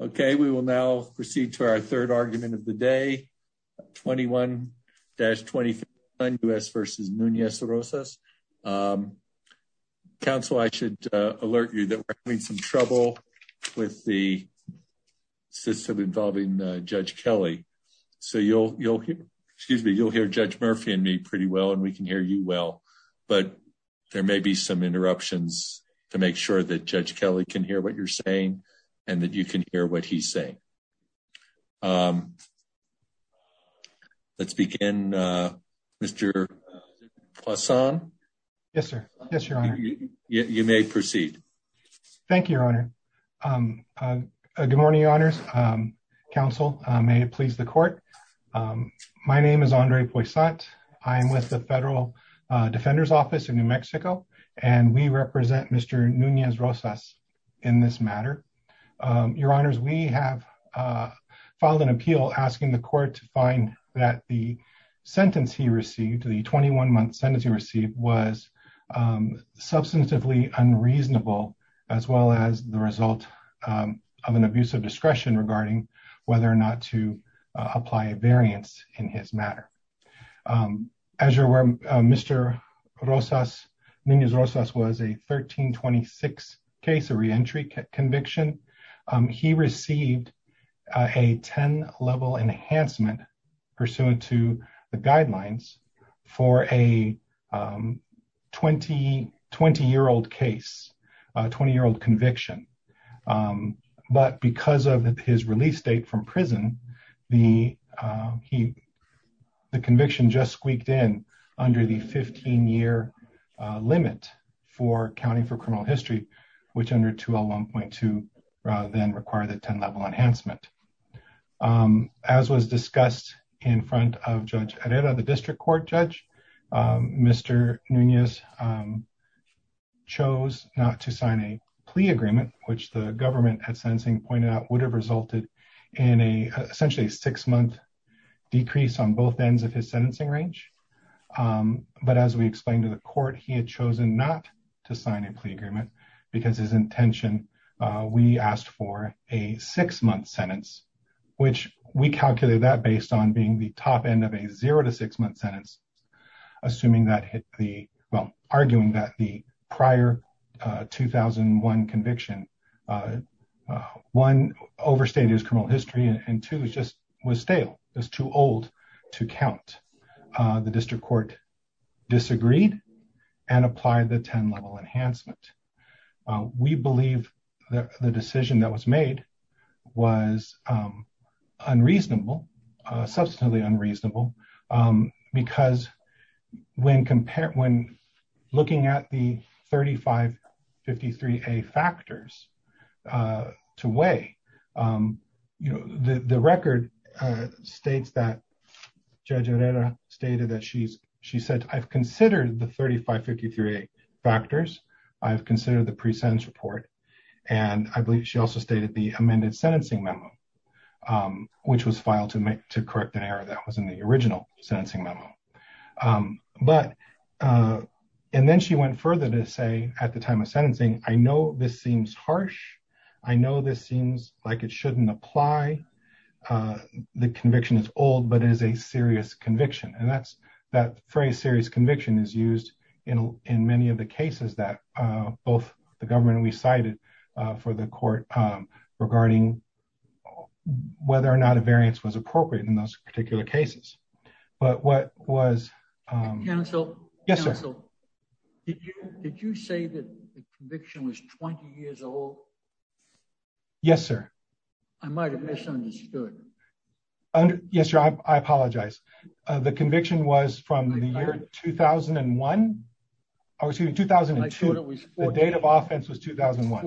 Okay, we will now proceed to our 3rd argument of the day, 21-25 U.S. v. Nunez-Rosas. Council, I should alert you that we're having some trouble with the system involving Judge Kelly. So you'll hear Judge Murphy and me pretty well, and we can hear you well, but there may be some interruptions to make sure that Judge Kelly can hear what you're saying. And that you can hear what he's saying. Let's begin, Mr. Poisson. Yes, sir. Yes, your honor. You may proceed. Thank you, your honor. Good morning, your honors. Council, may it please the court. My name is Andre Poisson. I'm with the Federal Defender's Office in New Mexico, and we represent Mr. Nunez-Rosas in this matter. Your honors, we have filed an appeal asking the court to find that the sentence he received, the 21-month sentence he received, was substantively unreasonable, as well as the result of an abuse of discretion regarding whether or not to apply a variance in his matter. As you're aware, Mr. Nunez-Rosas was a 1326 case, a reentry conviction. He received a 10-level enhancement pursuant to the guidelines for a 20-year-old case, a 20-year-old conviction. But because of his release date from prison, the conviction just squeaked in under the 15-year limit for accounting for criminal history, which under 201.2 then required a 10-level enhancement. As was discussed in front of Judge Herrera, the district court judge, Mr. Nunez-Rosas chose not to sign a plea agreement, which the government at sentencing pointed out would have resulted in essentially a six-month decrease on both ends of his sentencing range. But as we explained to the court, he had chosen not to sign a plea agreement because his intention, we asked for a six-month sentence, which we calculated that based on being the top end of a zero to six-month sentence, assuming that hit the, well, arguing that the prior 2001 conviction, one, overstated his criminal history, and two, just was stale, was too old to count. The district court disagreed and applied the 10-level enhancement. We believe that the decision that was made was unreasonable, substantially unreasonable, because when looking at the 3553A factors to weigh, the record states that Judge Herrera stated that she said, I've considered the 3553A factors, I've considered the pre-sentence report, and I believe she also stated the amended sentencing memo, which was filed to correct an error that was in the original sentencing memo. And then she went further to say at the time of sentencing, I know this seems harsh. I know this seems like it shouldn't apply. The conviction is old, but it is a serious conviction, and that phrase serious conviction is used in many of the cases that both the government and we cited for the court regarding whether or not a variance was appropriate in those particular cases. But what was... Counsel? Yes, sir. Counsel, did you say that the conviction was 20 years old? Yes, sir. I might have misunderstood. Yes, sir, I apologize. The conviction was from the year 2001, or excuse me, 2002. I thought it was 14. The date of offense was 2001.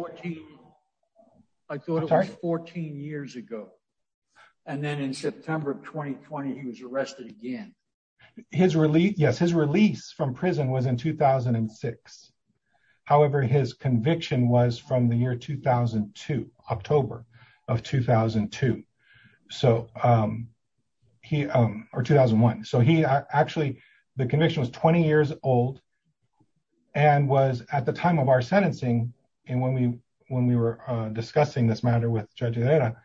I thought it was 14 years ago. And then in September of 2020, he was arrested again. Yes, his release from prison was in 2006. However, his conviction was from the year 2002, October of 2002. So he... or 2001. So he actually... the conviction was 20 years old and was at the time of our sentencing, and when we were discussing this matter with Judge Herrera,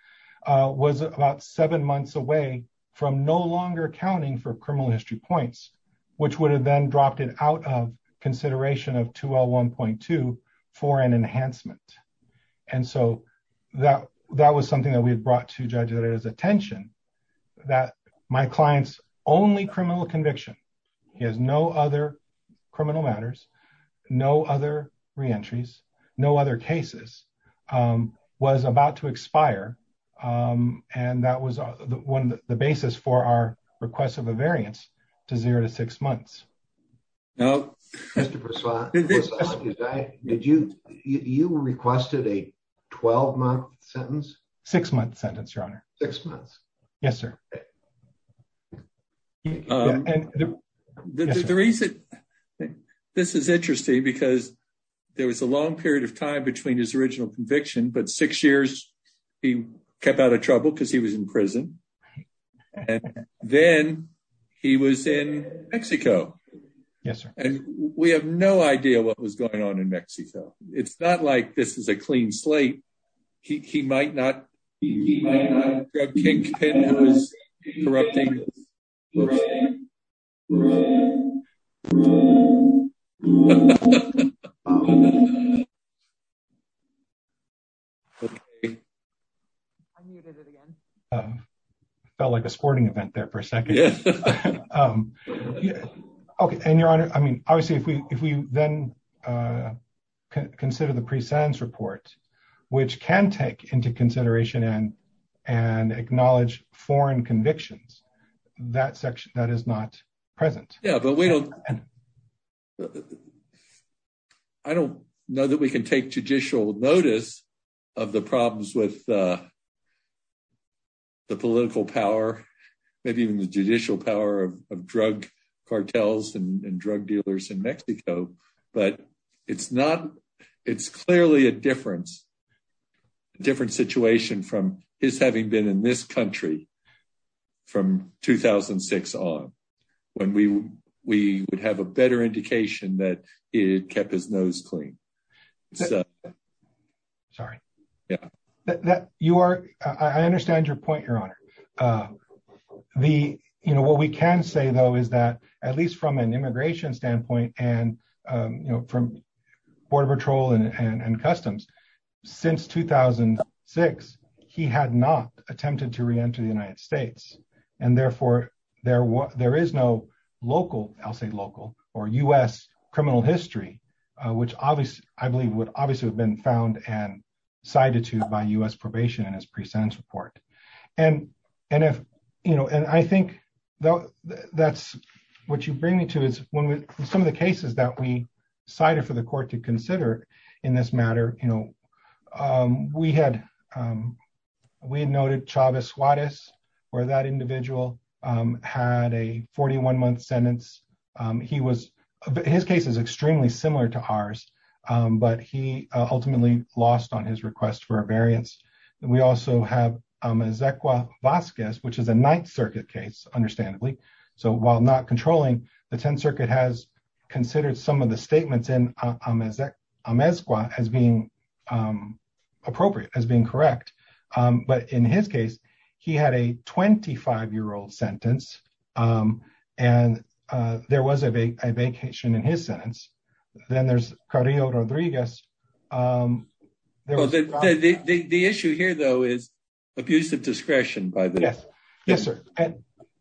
was about seven months away from no longer accounting for criminal history points, which would have then dropped it out of consideration of 2L1.2 for an enhancement. And so that was something that we had brought to Judge Herrera's attention, that my client's only criminal conviction, he has no other criminal matters, no other reentries, no other cases, was about to expire, and that was the basis for our request of a variance to zero to six months. Mr. Persaud, did you... you requested a 12-month sentence? Six-month sentence, Your Honor. Six months. Yes, sir. The reason... this is interesting because there was a long period of time between his original conviction, but six years, he kept out of trouble because he was in prison. And then he was in Mexico. Yes, sir. And we have no idea what was going on in Mexico. It's not like this is a clean slate. He might not... He might not... Grab Kingpin, who was corrupting... Felt like a sporting event there for a second. Okay, and Your Honor, I mean, obviously, if we then consider the pre-sentence report, which can take into consideration and acknowledge foreign convictions, that section, that is not present. Yeah, but we don't... I don't know that we can take judicial notice of the problems with the political power, maybe even the judicial power of drug cartels and drug dealers in Mexico. But it's not... It's clearly a difference, different situation from his having been in this country from 2006 on, when we would have a better indication that he kept his nose clean. Sorry. Yeah. You are... I understand your point, Your Honor. What we can say, though, is that, at least from an immigration standpoint and from Border Patrol and Customs, since 2006, he had not attempted to re-enter the United States. And therefore, there is no local, I'll say local, or U.S. criminal history, which I believe would obviously have been found and cited to by U.S. probation in his pre-sentence report. And I think that's what you bring me to, is some of the cases that we cited for the court to consider in this matter, we had noted Chavez Juarez, where that individual had a 41-month sentence. His case is extremely similar to ours, but he ultimately lost on his request for a variance. We also have Amezcua Vasquez, which is a Ninth Circuit case, understandably. So while not controlling, the Tenth Circuit has considered some of the statements in Amezcua as being appropriate, as being correct. But in his case, he had a 25-year-old sentence, and there was a vacation in his sentence. Then there's Carrillo Rodriguez. The issue here, though, is abusive discretion, by the way. Yes, sir.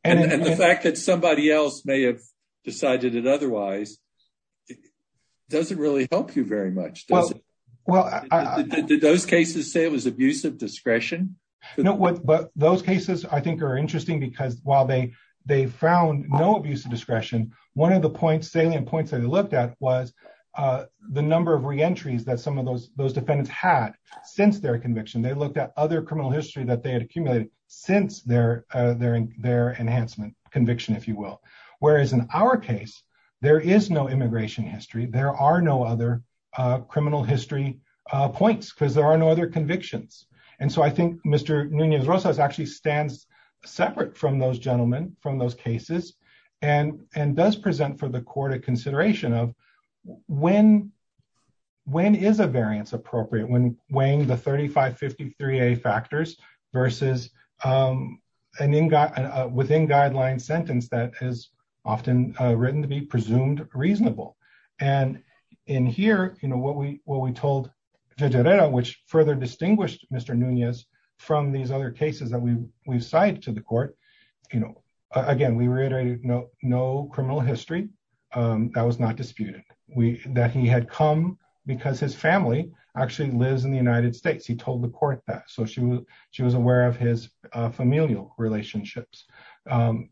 And the fact that somebody else may have decided it otherwise doesn't really help you very much, does it? Did those cases say it was abusive discretion? No, but those cases, I think, are interesting because while they found no abusive discretion, one of the salient points that they looked at was the number of reentries that some of those defendants had since their conviction. They looked at other criminal history that they had accumulated since their enhancement conviction, if you will. Whereas in our case, there is no immigration history. There are no other criminal history points because there are no other convictions. And so I think Mr. Núñez-Rosas actually stands separate from those gentlemen, from those cases, and does present for the court a consideration of when is a variance appropriate when weighing the 3553A factors versus a within-guideline sentence that is often written to be presumed reasonable. And in here, what we told Federera, which further distinguished Mr. Núñez from these other cases that we've cited to the court, again, we reiterated no criminal history that was not disputed, that he had come because his family actually lives in the United States. He told the court that. So she was aware of his familial relationships. Regarding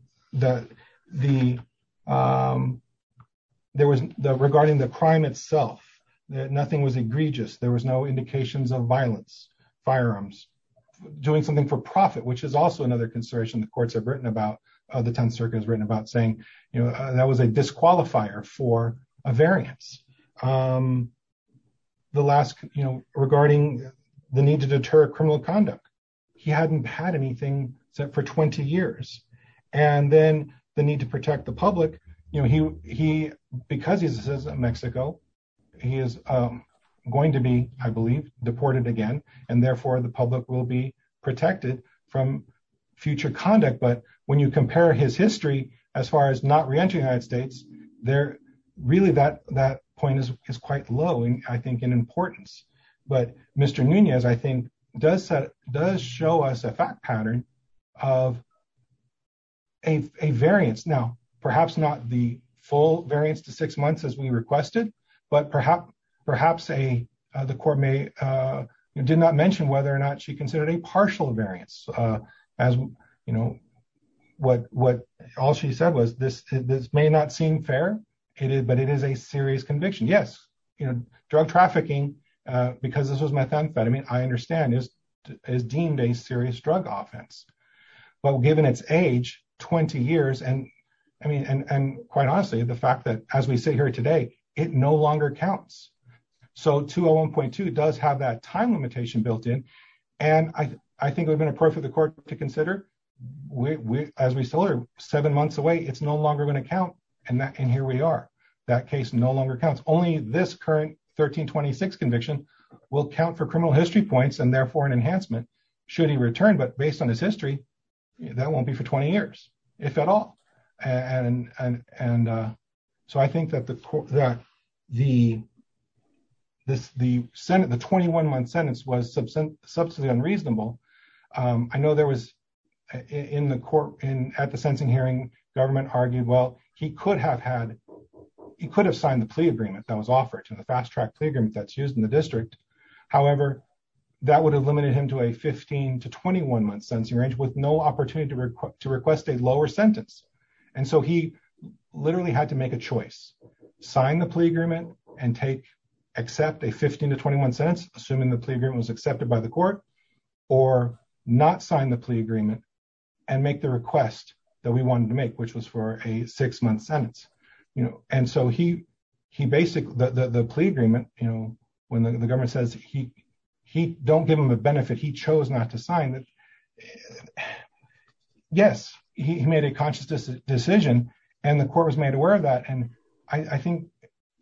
the crime itself, nothing was egregious. There was no indications of violence, firearms, doing something for profit, which is also another consideration the courts have written about, the 10th Circuit has written about saying, you know, that was a disqualifier for a variance. The last, you know, regarding the need to deter criminal conduct, he hadn't had anything for 20 years. And then the need to protect the public, you know, he, because he's a citizen of Mexico, he is going to be, I believe, deported again, and therefore the public will be protected from future conduct. But when you compare his history, as far as not re-entering the United States, really that point is quite low, I think, in importance. But Mr. Nunez, I think, does show us a fact pattern of a variance. Now, perhaps not the full variance to six months as we requested, but perhaps the court may, did not mention whether or not she considered a partial variance. As, you know, what all she said was, this may not seem fair, but it is a serious conviction. Yes, you know, drug trafficking, because this was methamphetamine, I understand, is deemed a serious drug offense. But given its age, 20 years, and I mean, and quite honestly, the fact that as we sit here today, it no longer counts. So 201.2 does have that time limitation built in. And I think it would have been appropriate for the court to consider, as we still are seven months away, it's no longer going to count. And here we are. That case no longer counts. Only this current 1326 conviction will count for criminal history points and therefore an enhancement should he return. But based on his history, that won't be for 20 years, if at all. And so I think that the 21 month sentence was substantially unreasonable. I know there was, in the court, at the sentencing hearing, government argued, well, he could have had, he could have signed the plea agreement that was offered to the fast track plea agreement that's used in the district. However, that would have limited him to a 15 to 21 month sentencing range with no opportunity to request a lower sentence. And so he literally had to make a choice, sign the plea agreement and take, accept a 15 to 21 sentence, assuming the plea agreement was accepted by the court, or not sign the plea agreement and make the request that we wanted to make, which was for a six month sentence. And so he basically, the plea agreement, when the government says he don't give him a benefit, he chose not to sign, yes, he made a conscious decision, and the court was made aware of that. And I think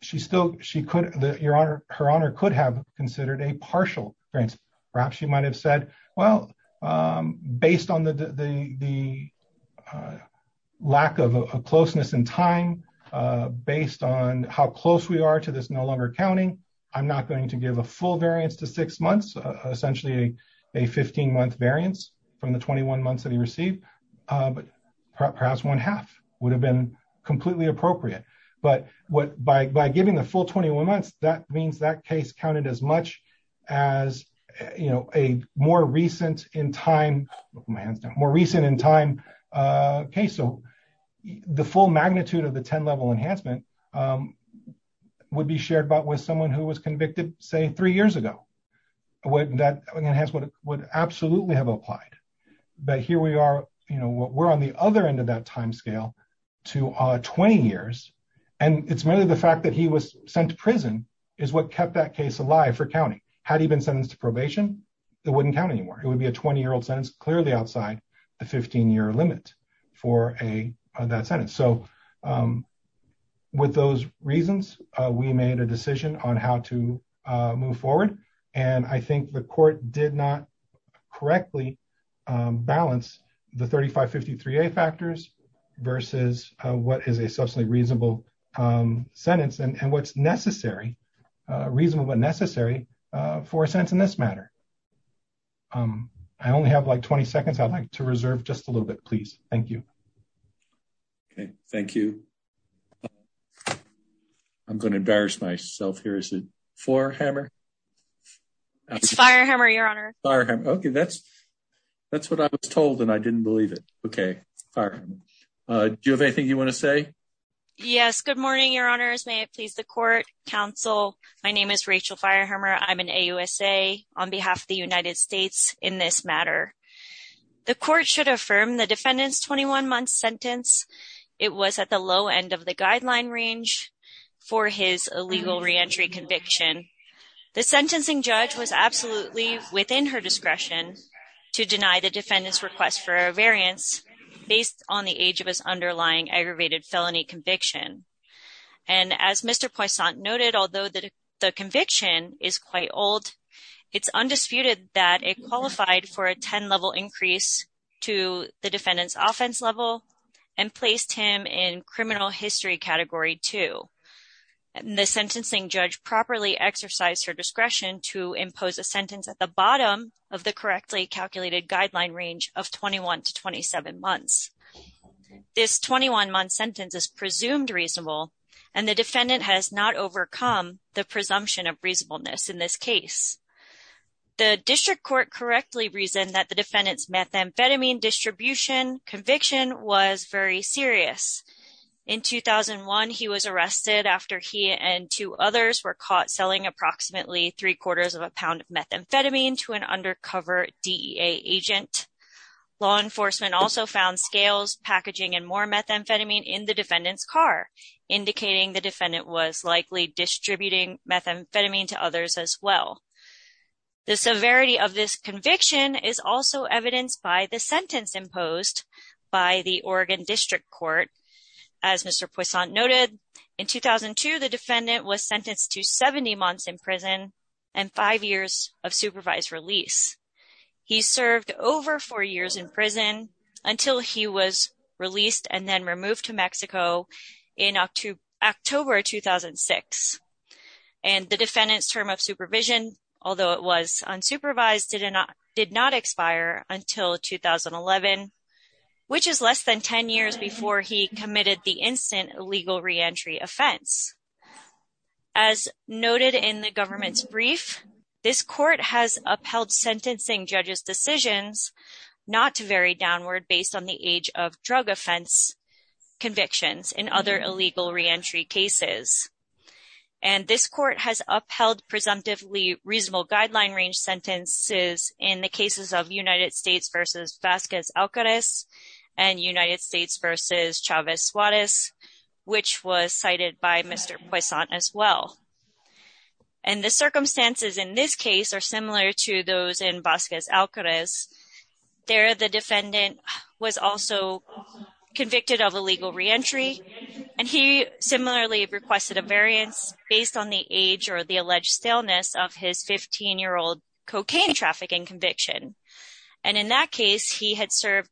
she still, her honor could have considered a partial variance. Perhaps she might have said, well, based on the lack of closeness in time, based on how close we are to this no longer counting, I'm not going to give a full variance to six months, essentially a 15 month variance from the 21 months that he received. Perhaps one half would have been completely appropriate. But by giving the full 21 months, that means that case counted as much as, you know, a more recent in time case. So the full magnitude of the 10 level enhancement would be shared with someone who was convicted, say, three years ago. That enhancement would absolutely have applied. But here we are, you know, we're on the other end of that timescale to 20 years. And it's merely the fact that he was sent to prison is what kept that case alive for counting. Had he been sentenced to probation, it wouldn't count anymore. It would be a 20 year old sentence, clearly outside the 15 year limit for that sentence. So with those reasons, we made a decision on how to move forward. And I think the court did not correctly balance the 3553A factors versus what is a substantially reasonable sentence and what's necessary, reasonable but necessary for a sentence in this matter. I only have like 20 seconds I'd like to reserve just a little bit, please. Thank you. Thank you. I'm going to embarrass myself here. Is it Firehammer? It's Firehammer, Your Honor. Okay, that's what I was told and I didn't believe it. Okay. Do you have anything you want to say? Yes. Good morning, Your Honors. May it please the court, counsel. My name is Rachel Firehammer. I'm an AUSA on behalf of the United States in this matter. The court should affirm the defendant's 21 month sentence. It was at the low end of the guideline range for his illegal reentry conviction. The sentencing judge was absolutely within her discretion to deny the defendant's request for a variance based on the age of his underlying aggravated felony conviction. And as Mr. Poisson noted, although the conviction is quite old, it's undisputed that it qualified for a 10 level increase to the defendant's offense level and placed him in criminal history category 2. The sentencing judge properly exercised her discretion to impose a sentence at the bottom of the correctly calculated guideline range of 21 to 27 months. This 21 month sentence is presumed reasonable and the defendant has not overcome the presumption of reasonableness in this case. The district court correctly reasoned that the defendant's methamphetamine distribution conviction was very serious. In 2001, he was arrested after he and two others were caught selling approximately three quarters of a pound of methamphetamine to an undercover DEA agent. Law enforcement also found scales, packaging, and more methamphetamine in the defendant's car, indicating the defendant was likely distributing methamphetamine to others as well. The severity of this conviction is also evidenced by the sentence imposed by the Oregon District Court. As Mr. Poisson noted, in 2002, the defendant was sentenced to 70 months in prison and five years of supervised release. He served over four years in prison until he was released and then removed to Mexico in October 2006. And the defendant's term of supervision, although it was unsupervised, did not expire until 2011, which is less than 10 years before he committed the instant legal reentry offense. As noted in the government's brief, this court has upheld sentencing judges' decisions not to vary downward based on the age of drug offense convictions in other illegal reentry cases. And this court has upheld presumptively reasonable guideline range sentences in the cases of United States v. Vasquez-Alcarez and United States v. Chavez-Suarez, which was cited by Mr. Poisson as well. And the circumstances in this case are similar to those in Vasquez-Alcarez. There, the defendant was also convicted of illegal reentry, and he similarly requested a variance based on the age or the alleged staleness of his 15-year-old cocaine trafficking conviction. And in that case, he had served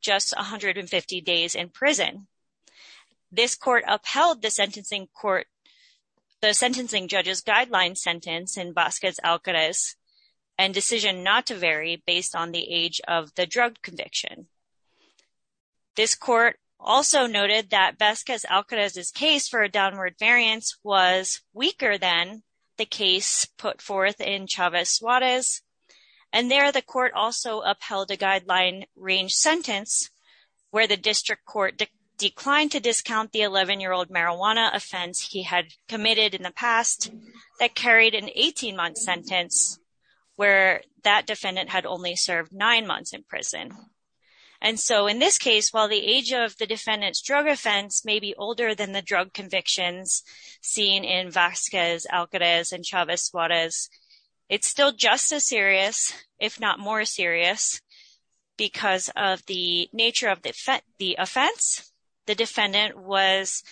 just 150 days in prison. This court upheld the sentencing judge's guideline sentence in Vasquez-Alcarez and decision not to vary based on the age of the drug conviction. This court also noted that Vasquez-Alcarez's case for a downward variance was weaker than the case put forth in Chavez-Suarez. And there, the court also upheld a guideline range sentence where the district court declined to discount the 11-year-old marijuana offense he had committed in the past that carried an 18-month sentence where that defendant had only served nine months in prison. And so in this case, while the age of the defendant's drug offense may be older than the drug convictions seen in Vasquez-Alcarez and Chavez-Suarez, it's still just as serious, if not more serious, because of the nature of the offense. The defendant was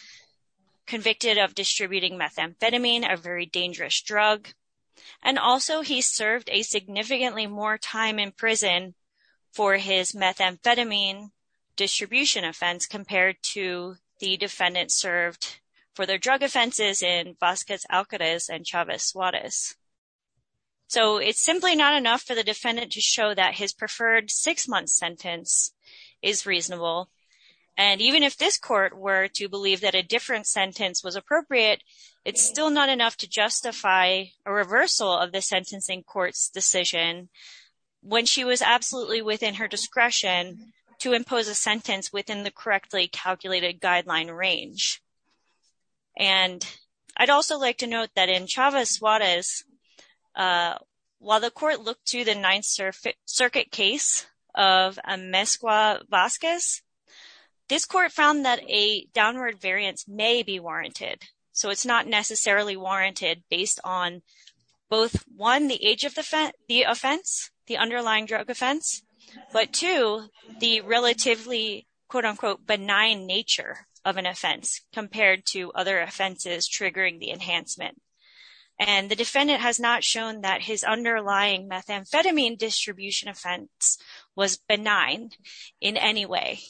convicted of distributing methamphetamine, a very dangerous drug, and also he served a significantly more time in prison for his methamphetamine distribution offense compared to the defendant served for their drug offenses in Vasquez-Alcarez and Chavez-Suarez. So it's simply not enough for the defendant to show that his preferred six-month sentence is reasonable. And even if this court were to believe that a different sentence was appropriate, it's still not enough to justify a reversal of the sentencing court's decision when she was absolutely within her discretion to impose a sentence within the correctly calculated guideline range. And I'd also like to note that in Chavez-Suarez, while the court looked to the Ninth Circuit case of Amezcua-Vasquez, this court found that a downward variance may be warranted. So it's not necessarily warranted based on both, one, the age of the offense, the underlying drug offense, but two, the relatively quote-unquote benign nature of an offense compared to other offenses triggering the enhancement. And the defendant has not shown that his underlying methamphetamine distribution offense was benign in any way.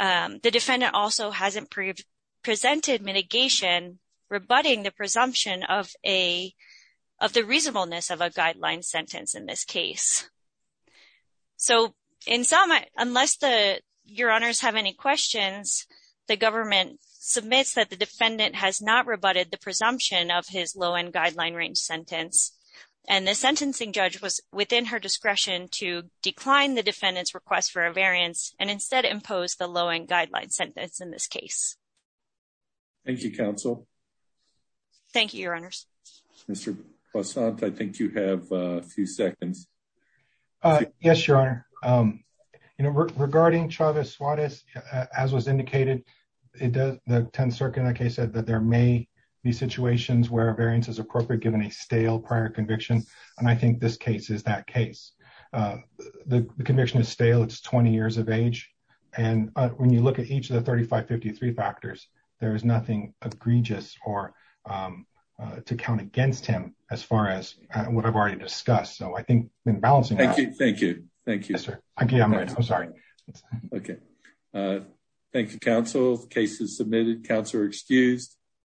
The defendant also hasn't presented mitigation rebutting the presumption of the reasonableness of a guideline sentence in this case. So unless your honors have any questions, the government submits that the defendant has not rebutted the presumption of his low-end guideline range sentence. And the sentencing judge was within her discretion to decline the defendant's request for a variance and instead impose the low-end guideline sentence in this case. Thank you, counsel. Thank you, your honors. Mr. Poisson, I think you have a few seconds. Yes, your honor. Regarding Chavez-Suarez, as was indicated, the Tenth Circuit in that case said that there may be situations where a variance is appropriate given a stale prior conviction, and I think this case is that case. The conviction is stale, it's 20 years of age, and when you look at each of the 3553 factors, there is nothing egregious to count against him as far as what I've already discussed. So I think in balancing that... Thank you. Thank you. Thank you. I'm sorry. Okay. Thank you, counsel. The case is submitted. Counsel are excused.